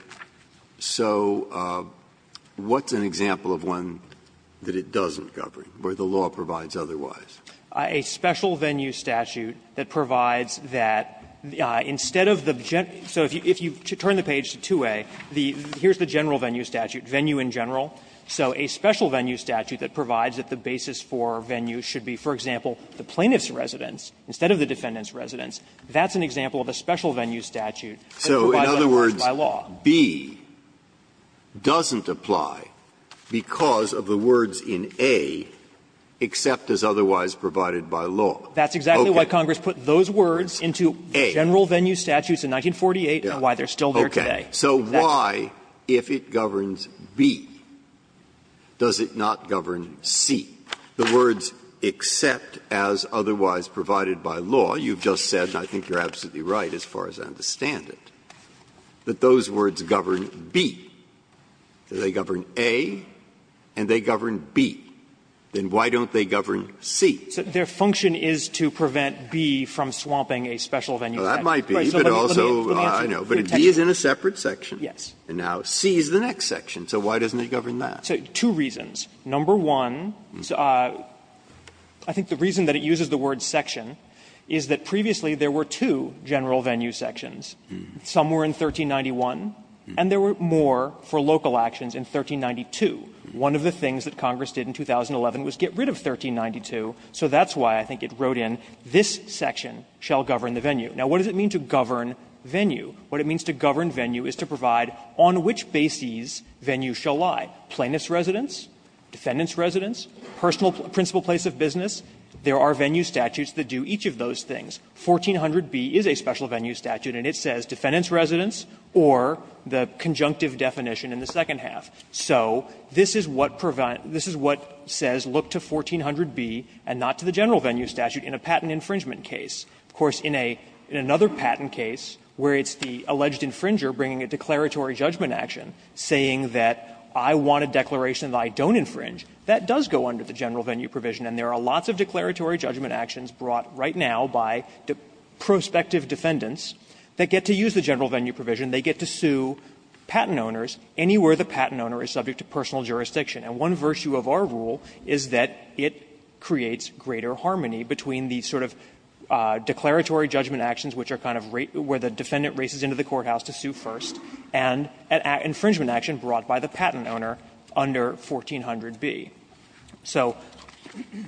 So what's an example of one that it doesn't govern, where the law provides otherwise? Wessler, A special venue statute that provides that instead of the general, so if you turn the page to 2A, here's the general venue statute, venue in general. So a special venue statute that provides that the basis for venue should be, for example, the plaintiff's residence instead of the defendant's residence, that's an example of a special venue statute that provides otherwise by law. Breyer, So in other words, B doesn't apply because of the words in A, except as otherwise provided by law. Wessler, That's exactly why Congress put those words into general venue statutes in 1948 and why they're still there today. Breyer, So why, if it governs B, does it not govern C? The words except as otherwise provided by law, you've just said, and I think you're absolutely right as far as I understand it, that those words govern B. They govern A and they govern B. Then why don't they govern C? Wessler, Their function is to prevent B from swapping a special venue statute. Breyer, That might be, but also, I know. But if B is in a separate section, and now C is the next section, so why doesn't it govern that? Wessler, So two reasons. Number one, I think the reason that it uses the word section is that previously there were two general venue sections. Some were in 1391 and there were more for local actions in 1392. One of the things that Congress did in 2011 was get rid of 1392, so that's why I think it wrote in, this section shall govern the venue. Now, what does it mean to govern venue? What it means to govern venue is to provide on which bases venues shall lie, plaintiff's residence, defendant's residence, personal principal place of business. There are venue statutes that do each of those things. 1400B is a special venue statute, and it says defendant's residence or the conjunctive definition in the second half. So this is what prevents this is what says look to 1400B and not to the general venue statute in a patent infringement case. Of course, in a, in another patent case where it's the alleged infringer bringing a declaratory judgment action saying that I want a declaration that I don't infringe, that does go under the general venue provision. And there are lots of declaratory judgment actions brought right now by prospective defendants that get to use the general venue provision. They get to sue patent owners anywhere the patent owner is subject to personal jurisdiction. And one virtue of our rule is that it creates greater harmony between the sort of declaratory judgment actions, which are kind of where the defendant races into the courthouse to sue first, and an infringement action brought by the patent owner under 1400B. So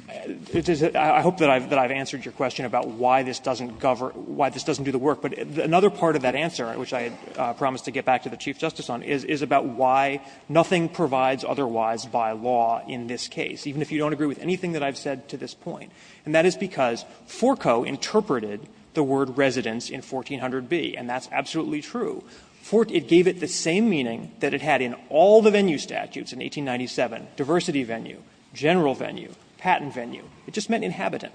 I hope that I've answered your question about why this doesn't govern, why this doesn't do the work. But another part of that answer, which I promised to get back to the Chief Justice on, is about why nothing provides otherwise by law in this case, even if you don't agree with anything that I've said to this point. And that is because Forco interpreted the word residence in 1400B, and that's absolutely true. It gave it the same meaning that it had in all the venue statutes in 1897, diversity venue, general venue, patent venue. It just meant inhabitant.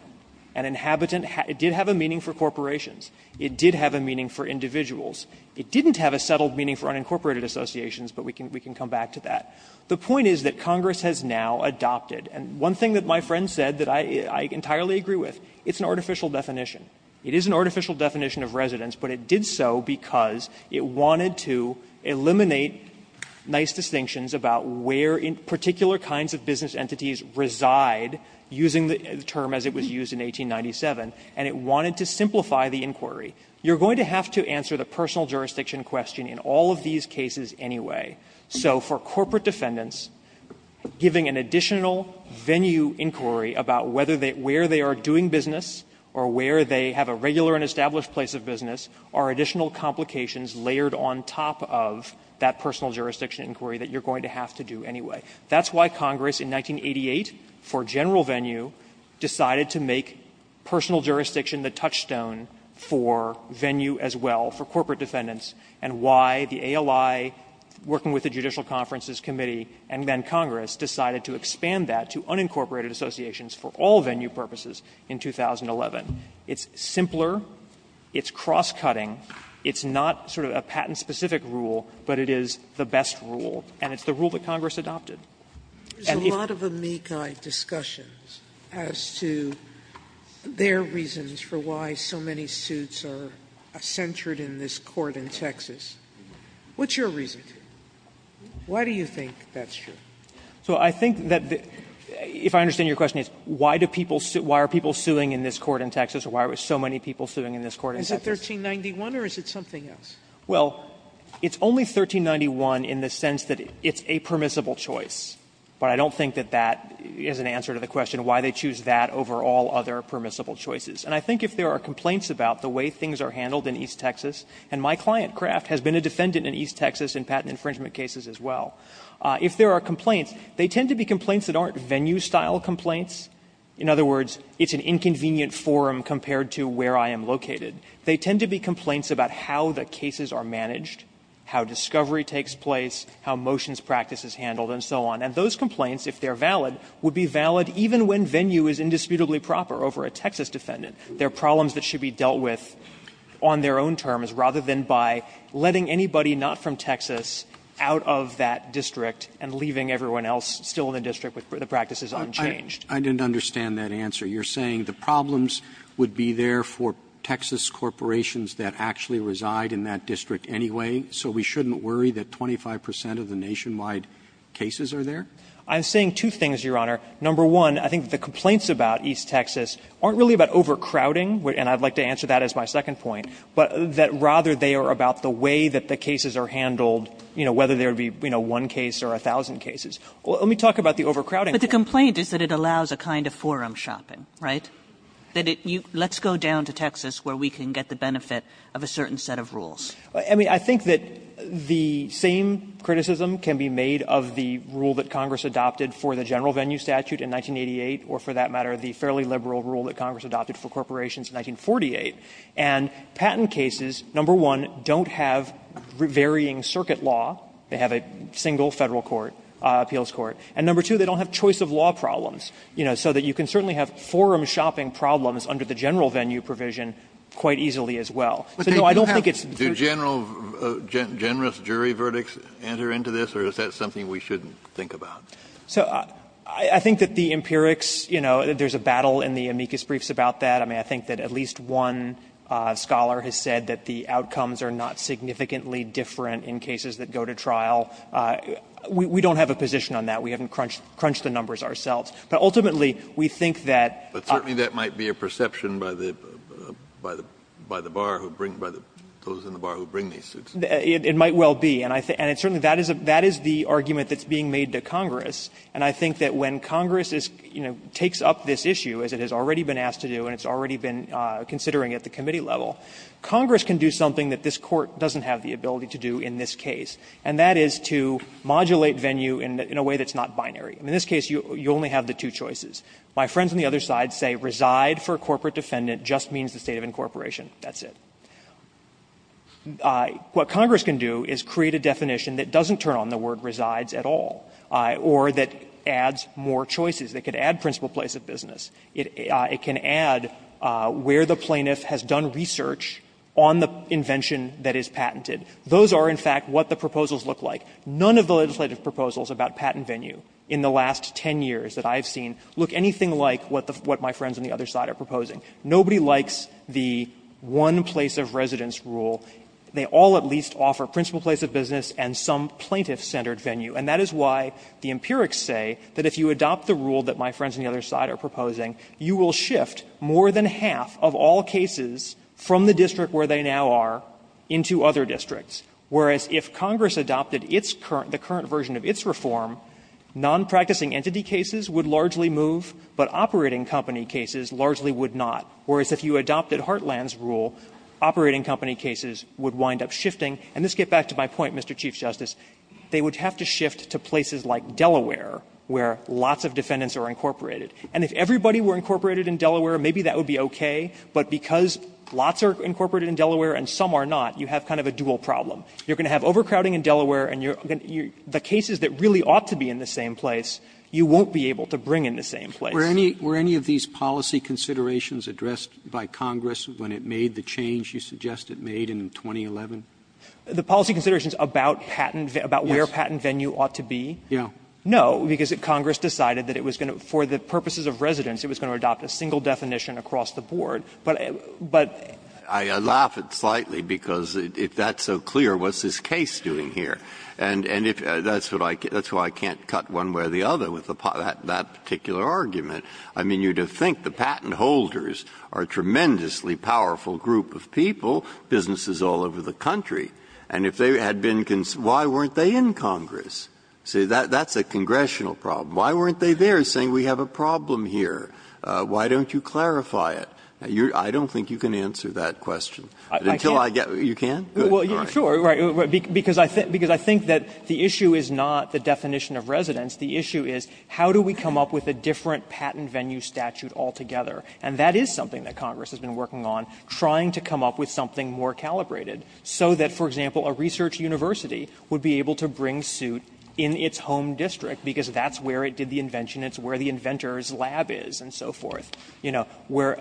And inhabitant, it did have a meaning for corporations. It did have a meaning for individuals. It didn't have a settled meaning for unincorporated associations, but we can come back to that. The point is that Congress has now adopted, and one thing that my friend said that I entirely agree with, it's an artificial definition. It is an artificial definition of residence, but it did so because it wanted to eliminate nice distinctions about where particular kinds of business entities reside, using the term as it was used in 1897, and it wanted to simplify the inquiry. You're going to have to answer the personal jurisdiction question in all of these cases anyway. So for corporate defendants, giving an additional venue inquiry about whether they – where they are doing business or where they have a regular and established place of business are additional complications layered on top of that personal jurisdiction inquiry that you're going to have to do anyway. That's why Congress in 1988 for general venue decided to make personal jurisdiction the touchstone for venue as well for corporate defendants, and why the ALI working with the Judicial Conferences Committee and then Congress decided to expand that to unincorporated associations for all venue purposes in 2011. It's simpler, it's cross-cutting, it's not sort of a patent-specific rule, but it is the best rule, and it's the rule that Congress adopted. And if the law does not allow it, it's not the best rule, and it's the rule that Congress adopted. Sotomayor, there's a lot of amici discussions as to their reasons for why so many suits are censored in this Court in Texas. What's your reason? Why do you think that's true? So I think that the – if I understand your question, it's why do people – why are people suing in this Court in Texas, or why are so many people suing in this Court in Texas? Is it 1391, or is it something else? Well, it's only 1391 in the sense that it's a permissible choice, but I don't think that that is an answer to the question why they choose that over all other permissible choices. And I think if there are complaints about the way things are handled in East Texas – and my client, Kraft, has been a defendant in East Texas in patent infringement cases as well – if there are complaints, they tend to be complaints that aren't venue-style complaints. In other words, it's an inconvenient forum compared to where I am located. They tend to be complaints about how the cases are managed, how discovery takes place, how motions practice is handled, and so on. And those complaints, if they're valid, would be valid even when venue is indisputably proper over a Texas defendant. There are problems that should be dealt with on their own terms rather than by letting anybody not from Texas out of that district and leaving everyone else still in the district with the practices unchanged. Roberts. I didn't understand that answer. You're saying the problems would be there for Texas corporations that actually reside in that district anyway, so we shouldn't worry that 25 percent of the nationwide cases are there? I'm saying two things, Your Honor. Number one, I think the complaints about East Texas aren't really about overcrowding, and I'd like to answer that as my second point, but that rather they are about the way that the cases are handled, you know, whether there would be, you know, one case or a thousand cases. Let me talk about the overcrowding. Kagan. But the complaint is that it allows a kind of forum shopping, right? That it – let's go down to Texas where we can get the benefit of a certain set of rules. I mean, I think that the same criticism can be made of the rule that Congress adopted for the general venue statute in 1988 or, for that matter, the fairly liberal rule that Congress adopted for corporations in 1948, and patent cases, number one, don't have varying circuit law. They have a single Federal court, appeals court. And number two, they don't have choice of law problems, you know, so that you can certainly have forum shopping problems under the general venue provision quite easily as well. So, no, I don't think it's the first case. Kennedy, do general – generous jury verdicts enter into this, or is that something we shouldn't think about? So I think that the empirics, you know, there's a battle in the amicus briefs about that. I mean, I think that at least one scholar has said that the outcomes are not significantly different in cases that go to trial. We don't have a position on that. We haven't crunched the numbers ourselves. But ultimately, we think that – But certainly that might be a perception by the bar who bring – by those in the bar who bring these suits. It might well be. And certainly that is the argument that's being made to Congress, and I think that when Congress, you know, takes up this issue, as it has already been asked to do and it's already been considering at the committee level, Congress can do something that this Court doesn't have the ability to do in this case, and that is to modulate venue in a way that's not binary. In this case, you only have the two choices. My friends on the other side say reside for a corporate defendant just means the state of incorporation. That's it. What Congress can do is create a definition that doesn't turn on the word resides at all, or that adds more choices. It could add principal place of business. It can add where the plaintiff has done research on the invention that is patented. Those are, in fact, what the proposals look like. None of the legislative proposals about patent venue in the last ten years that I have Nobody likes the one-place-of-residence rule. They all at least offer principal place of business and some plaintiff-centered venue, and that is why the empirics say that if you adopt the rule that my friends on the other side are proposing, you will shift more than half of all cases from the district where they now are into other districts, whereas if Congress adopted its current the current version of its reform, nonpracticing entity cases would largely move, but operating company cases largely would not, whereas if you adopted Heartland's rule, operating company cases would wind up shifting. And let's get back to my point, Mr. Chief Justice. They would have to shift to places like Delaware where lots of defendants are incorporated. And if everybody were incorporated in Delaware, maybe that would be okay, but because lots are incorporated in Delaware and some are not, you have kind of a dual problem. You are going to have overcrowding in Delaware and the cases that really ought to be in the same place, you won't be able to bring in the same place. Roberts Were any of these policy considerations addressed by Congress when it made the change you suggest it made in 2011? The policy considerations about patent, about where patent venue ought to be? Yeah. No, because Congress decided that it was going to, for the purposes of residence, it was going to adopt a single definition across the board, but, but. I laugh at it slightly because if that's so clear, what's this case doing here? And, and if, that's what I, that's why I can't cut one way or the other with that particular argument. I mean, you'd think the patent holders are a tremendously powerful group of people, businesses all over the country. And if they had been, why weren't they in Congress? See, that, that's a congressional problem. Why weren't they there saying we have a problem here? Why don't you clarify it? I don't think you can answer that question. I can't. You can't? Well, yeah, sure, right, because I think, because I think that the issue is not the definition of residence. The issue is how do we come up with a different patent venue statute altogether? And that is something that Congress has been working on, trying to come up with something more calibrated, so that, for example, a research university would be able to bring suit in its home district, because that's where it did the invention, it's where the inventor's lab is, and so forth. You know, where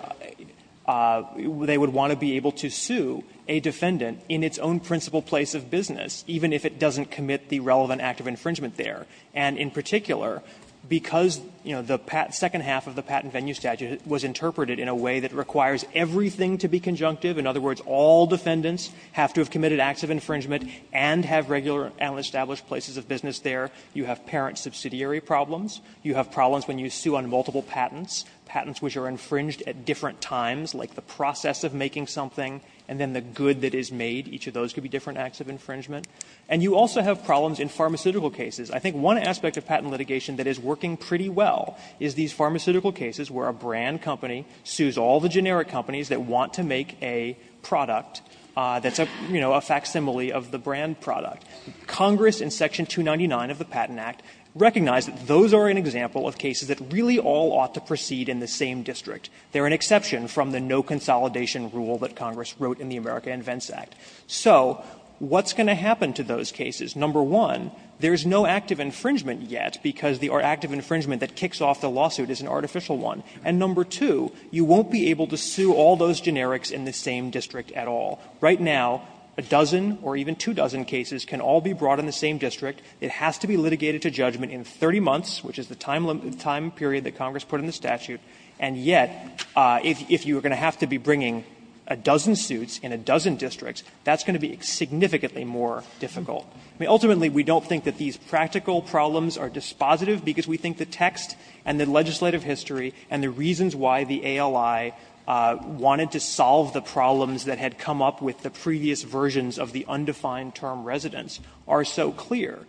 they would want to be able to sue a defendant in its own principal place of business, even if it doesn't commit the relevant act of infringement there. And in particular, because, you know, the second half of the patent venue statute was interpreted in a way that requires everything to be conjunctive, in other words, all defendants have to have committed acts of infringement and have regular and established places of business there. You have parent subsidiary problems. You have problems when you sue on multiple patents. Patents which are infringed at different times, like the process of making something and then the good that is made, each of those could be different acts of infringement. And you also have problems in pharmaceutical cases. I think one aspect of patent litigation that is working pretty well is these pharmaceutical cases where a brand company sues all the generic companies that want to make a product that's a, you know, a facsimile of the brand product. Congress in section 299 of the Patent Act recognized that those are an example of cases that really all ought to proceed in the same district. They are an exception from the no consolidation rule that Congress wrote in the America Invents Act. So what's going to happen to those cases? Number one, there is no active infringement yet because the active infringement that kicks off the lawsuit is an artificial one. And number two, you won't be able to sue all those generics in the same district at all. Right now, a dozen or even two dozen cases can all be brought in the same district. It has to be litigated to judgment in 30 months, which is the time period that Congress put in the statute. And yet, if you are going to have to be bringing a dozen suits in a dozen districts, that's going to be significantly more difficult. I mean, ultimately, we don't think that these practical problems are dispositive because we think the text and the legislative history and the reasons why the ALI wanted to solve the problems that had come up with the previous versions of the undefined term residence are so clear.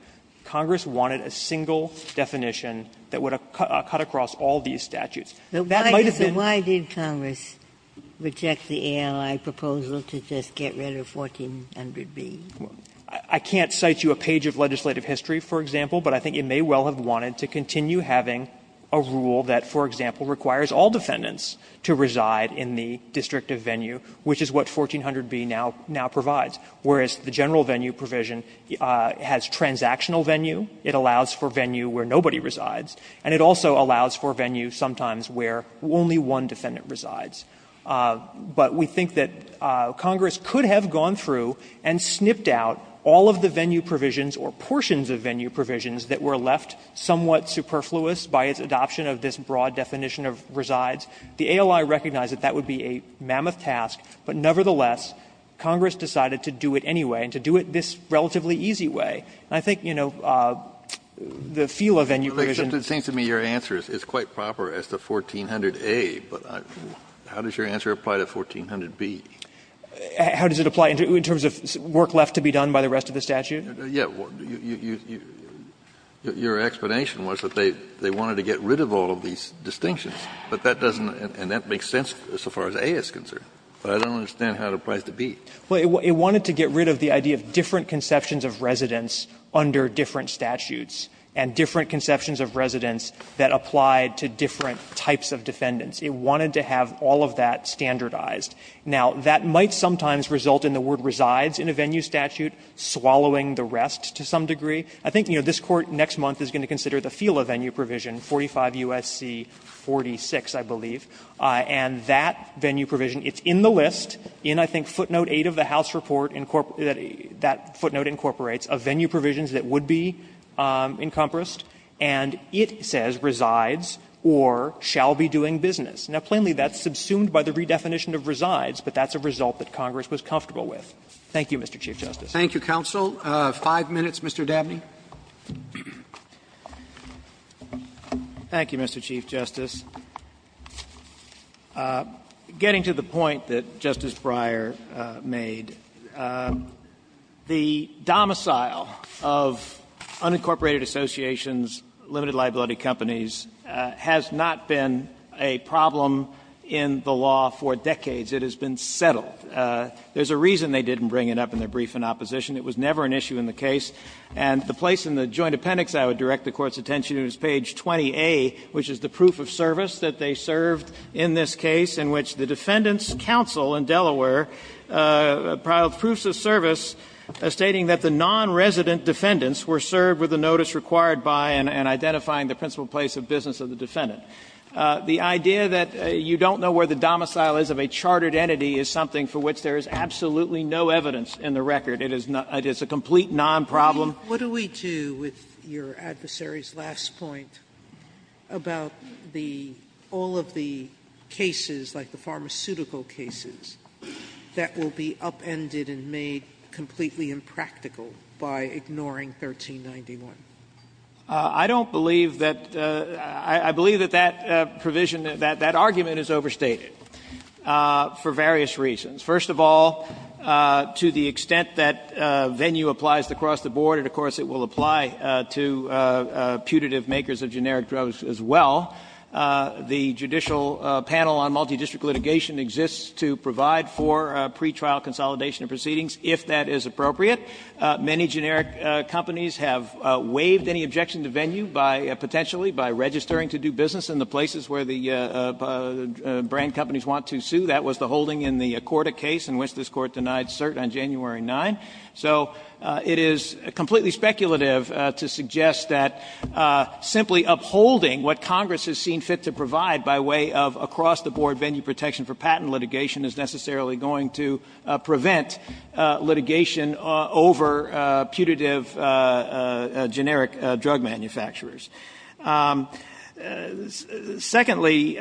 Congress wanted a single definition that would have cut across all these statutes. That might have been the reason why Congress rejected the ALI proposal to just get rid of 1400b. I can't cite you a page of legislative history, for example, but I think it may well have wanted to continue having a rule that, for example, requires all defendants to reside in the district of venue, which is what 1400b now provides. Whereas the general venue provision has transactional venue, it allows for venue where nobody resides, and it also allows for venue sometimes where only one defendant resides. But we think that Congress could have gone through and snipped out all of the venue provisions or portions of venue provisions that were left somewhat superfluous by its adoption of this broad definition of resides. The ALI recognized that that would be a mammoth task, but nevertheless, Congress decided to do it anyway, and to do it this relatively easy way. And I think, you know, the feel of venue provision — Kennedy, it seems to me your answer is quite proper as to 1400a, but how does your answer apply to 1400b? How does it apply in terms of work left to be done by the rest of the statute? Yes. Your explanation was that they wanted to get rid of all of these distinctions, but that doesn't — and that makes sense so far as a is concerned. But I don't understand how it applies to b. Well, it wanted to get rid of the idea of different conceptions of residence under different statutes and different conceptions of residence that apply to different types of defendants. It wanted to have all of that standardized. Now, that might sometimes result in the word resides in a venue statute swallowing the rest to some degree. I think, you know, this Court next month is going to consider the FILA venue provision, 45 U.S.C. 46, I believe, and that venue provision, it's in the list, in I think footnote 8 of the House report, that footnote incorporates, of venue provisions that would be encompassed, and it says resides or shall be doing business. Now, plainly, that's subsumed by the redefinition of resides, but that's a result that Congress was comfortable with. Thank you, Mr. Chief Justice. Roberts. Thank you, counsel. Five minutes, Mr. Dabney. Thank you, Mr. Chief Justice. Getting to the point that Justice Breyer made, the domicile of unincorporated associations, limited liability companies, has not been a problem in the law for decades. It has been settled. There's a reason they didn't bring it up in their brief in opposition. It was never an issue in the case. And the place in the joint appendix I would direct the Court's attention to is page 20A, which is the proof of service that they served in this case, in which the Defendant's Counsel in Delaware filed proofs of service stating that the nonresident defendants were served with the notice required by and identifying the principal place of business of the defendant. The idea that you don't know where the domicile is of a chartered entity is something for which there is absolutely no evidence in the record. It is a complete nonproblem. Sotomayor, what do we do with your adversary's last point about the all of the cases, like the pharmaceutical cases, that will be upended and made completely impractical by ignoring 1391? I don't believe that the – I believe that that provision, that argument is overstated for various reasons. First of all, to the extent that venue applies across the board, and of course it will apply to putative makers of generic drugs as well, the Judicial Panel on Multidistrict Litigation exists to provide for pretrial consolidation of proceedings, if that is appropriate. Many generic companies have waived any objection to venue by – potentially by registering to do business in the places where the brand companies want to sue. That was the holding in the Accorda case, in which this Court denied cert on January 9. So it is completely speculative to suggest that simply upholding what Congress has seen fit to provide by way of across-the-board venue protection for patent litigation is necessarily going to prevent litigation over putative generic drug manufacturers. Secondly, the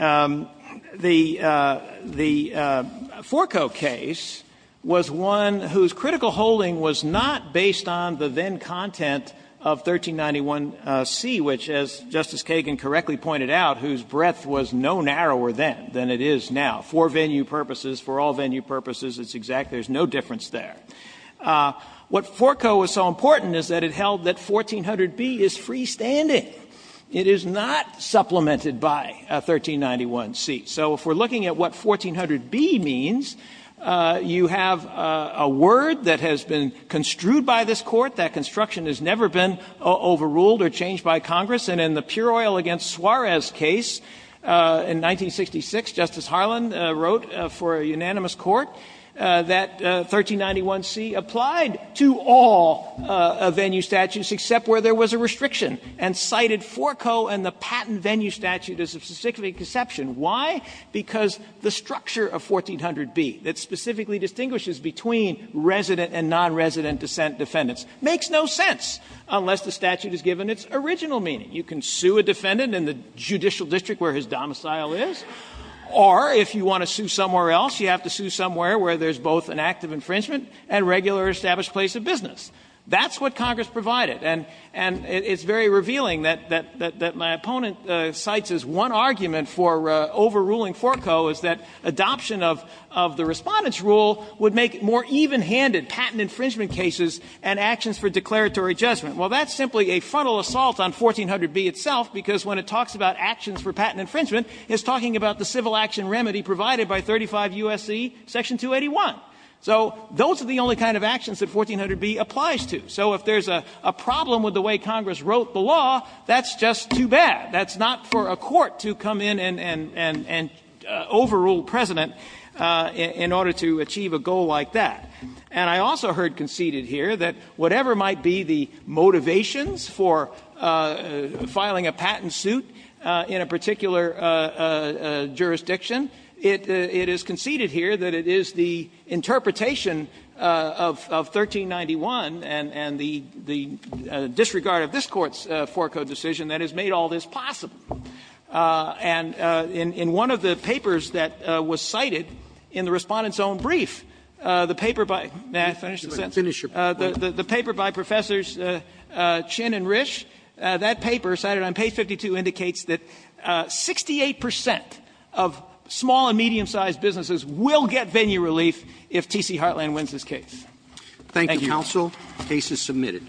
Forco case was one whose critical holding was not based on the then-content of 1391C, which, as Justice Kagan correctly pointed out, whose breadth was no narrower then than it is now. For venue purposes, for all venue purposes, it's exact. There's no difference there. What Forco was so important is that it held that 1400B is freestanding. It is not supplemented by 1391C. So if we're looking at what 1400B means, you have a word that has been construed by this Court. That construction has never been overruled or changed by Congress. And in the Pure Oil v. Suarez case in 1966, Justice Harlan wrote for a unanimous court that 1391C applied to all venue statutes except where there was a restriction and cited Forco and the patent venue statute as a specific exception. Why? Because the structure of 1400B that specifically distinguishes between resident and non-resident dissent defendants makes no sense unless the statute is given its original meaning. You can sue a defendant in the judicial district where his domicile is, or if you want to sue somewhere else, you have to sue somewhere where there's both an act of infringement and regular established place of business. That's what Congress provided, and it's very revealing that my opponent cites as one argument for overruling Forco is that adoption of the Respondent's Rule would make more even-handed patent infringement cases and actions for declaratory judgment. Well, that's simply a frontal assault on 1400B itself, because when it talks about a civil action remedy provided by 35 U.S.C. section 281. So those are the only kind of actions that 1400B applies to. So if there's a problem with the way Congress wrote the law, that's just too bad. That's not for a court to come in and overrule precedent in order to achieve a goal like that. And I also heard conceded here that whatever might be the motivations for filing a patent suit in a particular jurisdiction, it is conceded here that it is the interpretation of 1391 and the disregard of this Court's Forco decision that has made all this possible. And in one of the papers that was cited in the Respondent's own brief, the paper by the paper by Professors Chin and Risch, that paper cited on page 131, that the case 52 indicates that 68 percent of small and medium-sized businesses will get venue relief if T.C. Heartland wins this case. Thank you. Thank you, counsel. The case is submitted.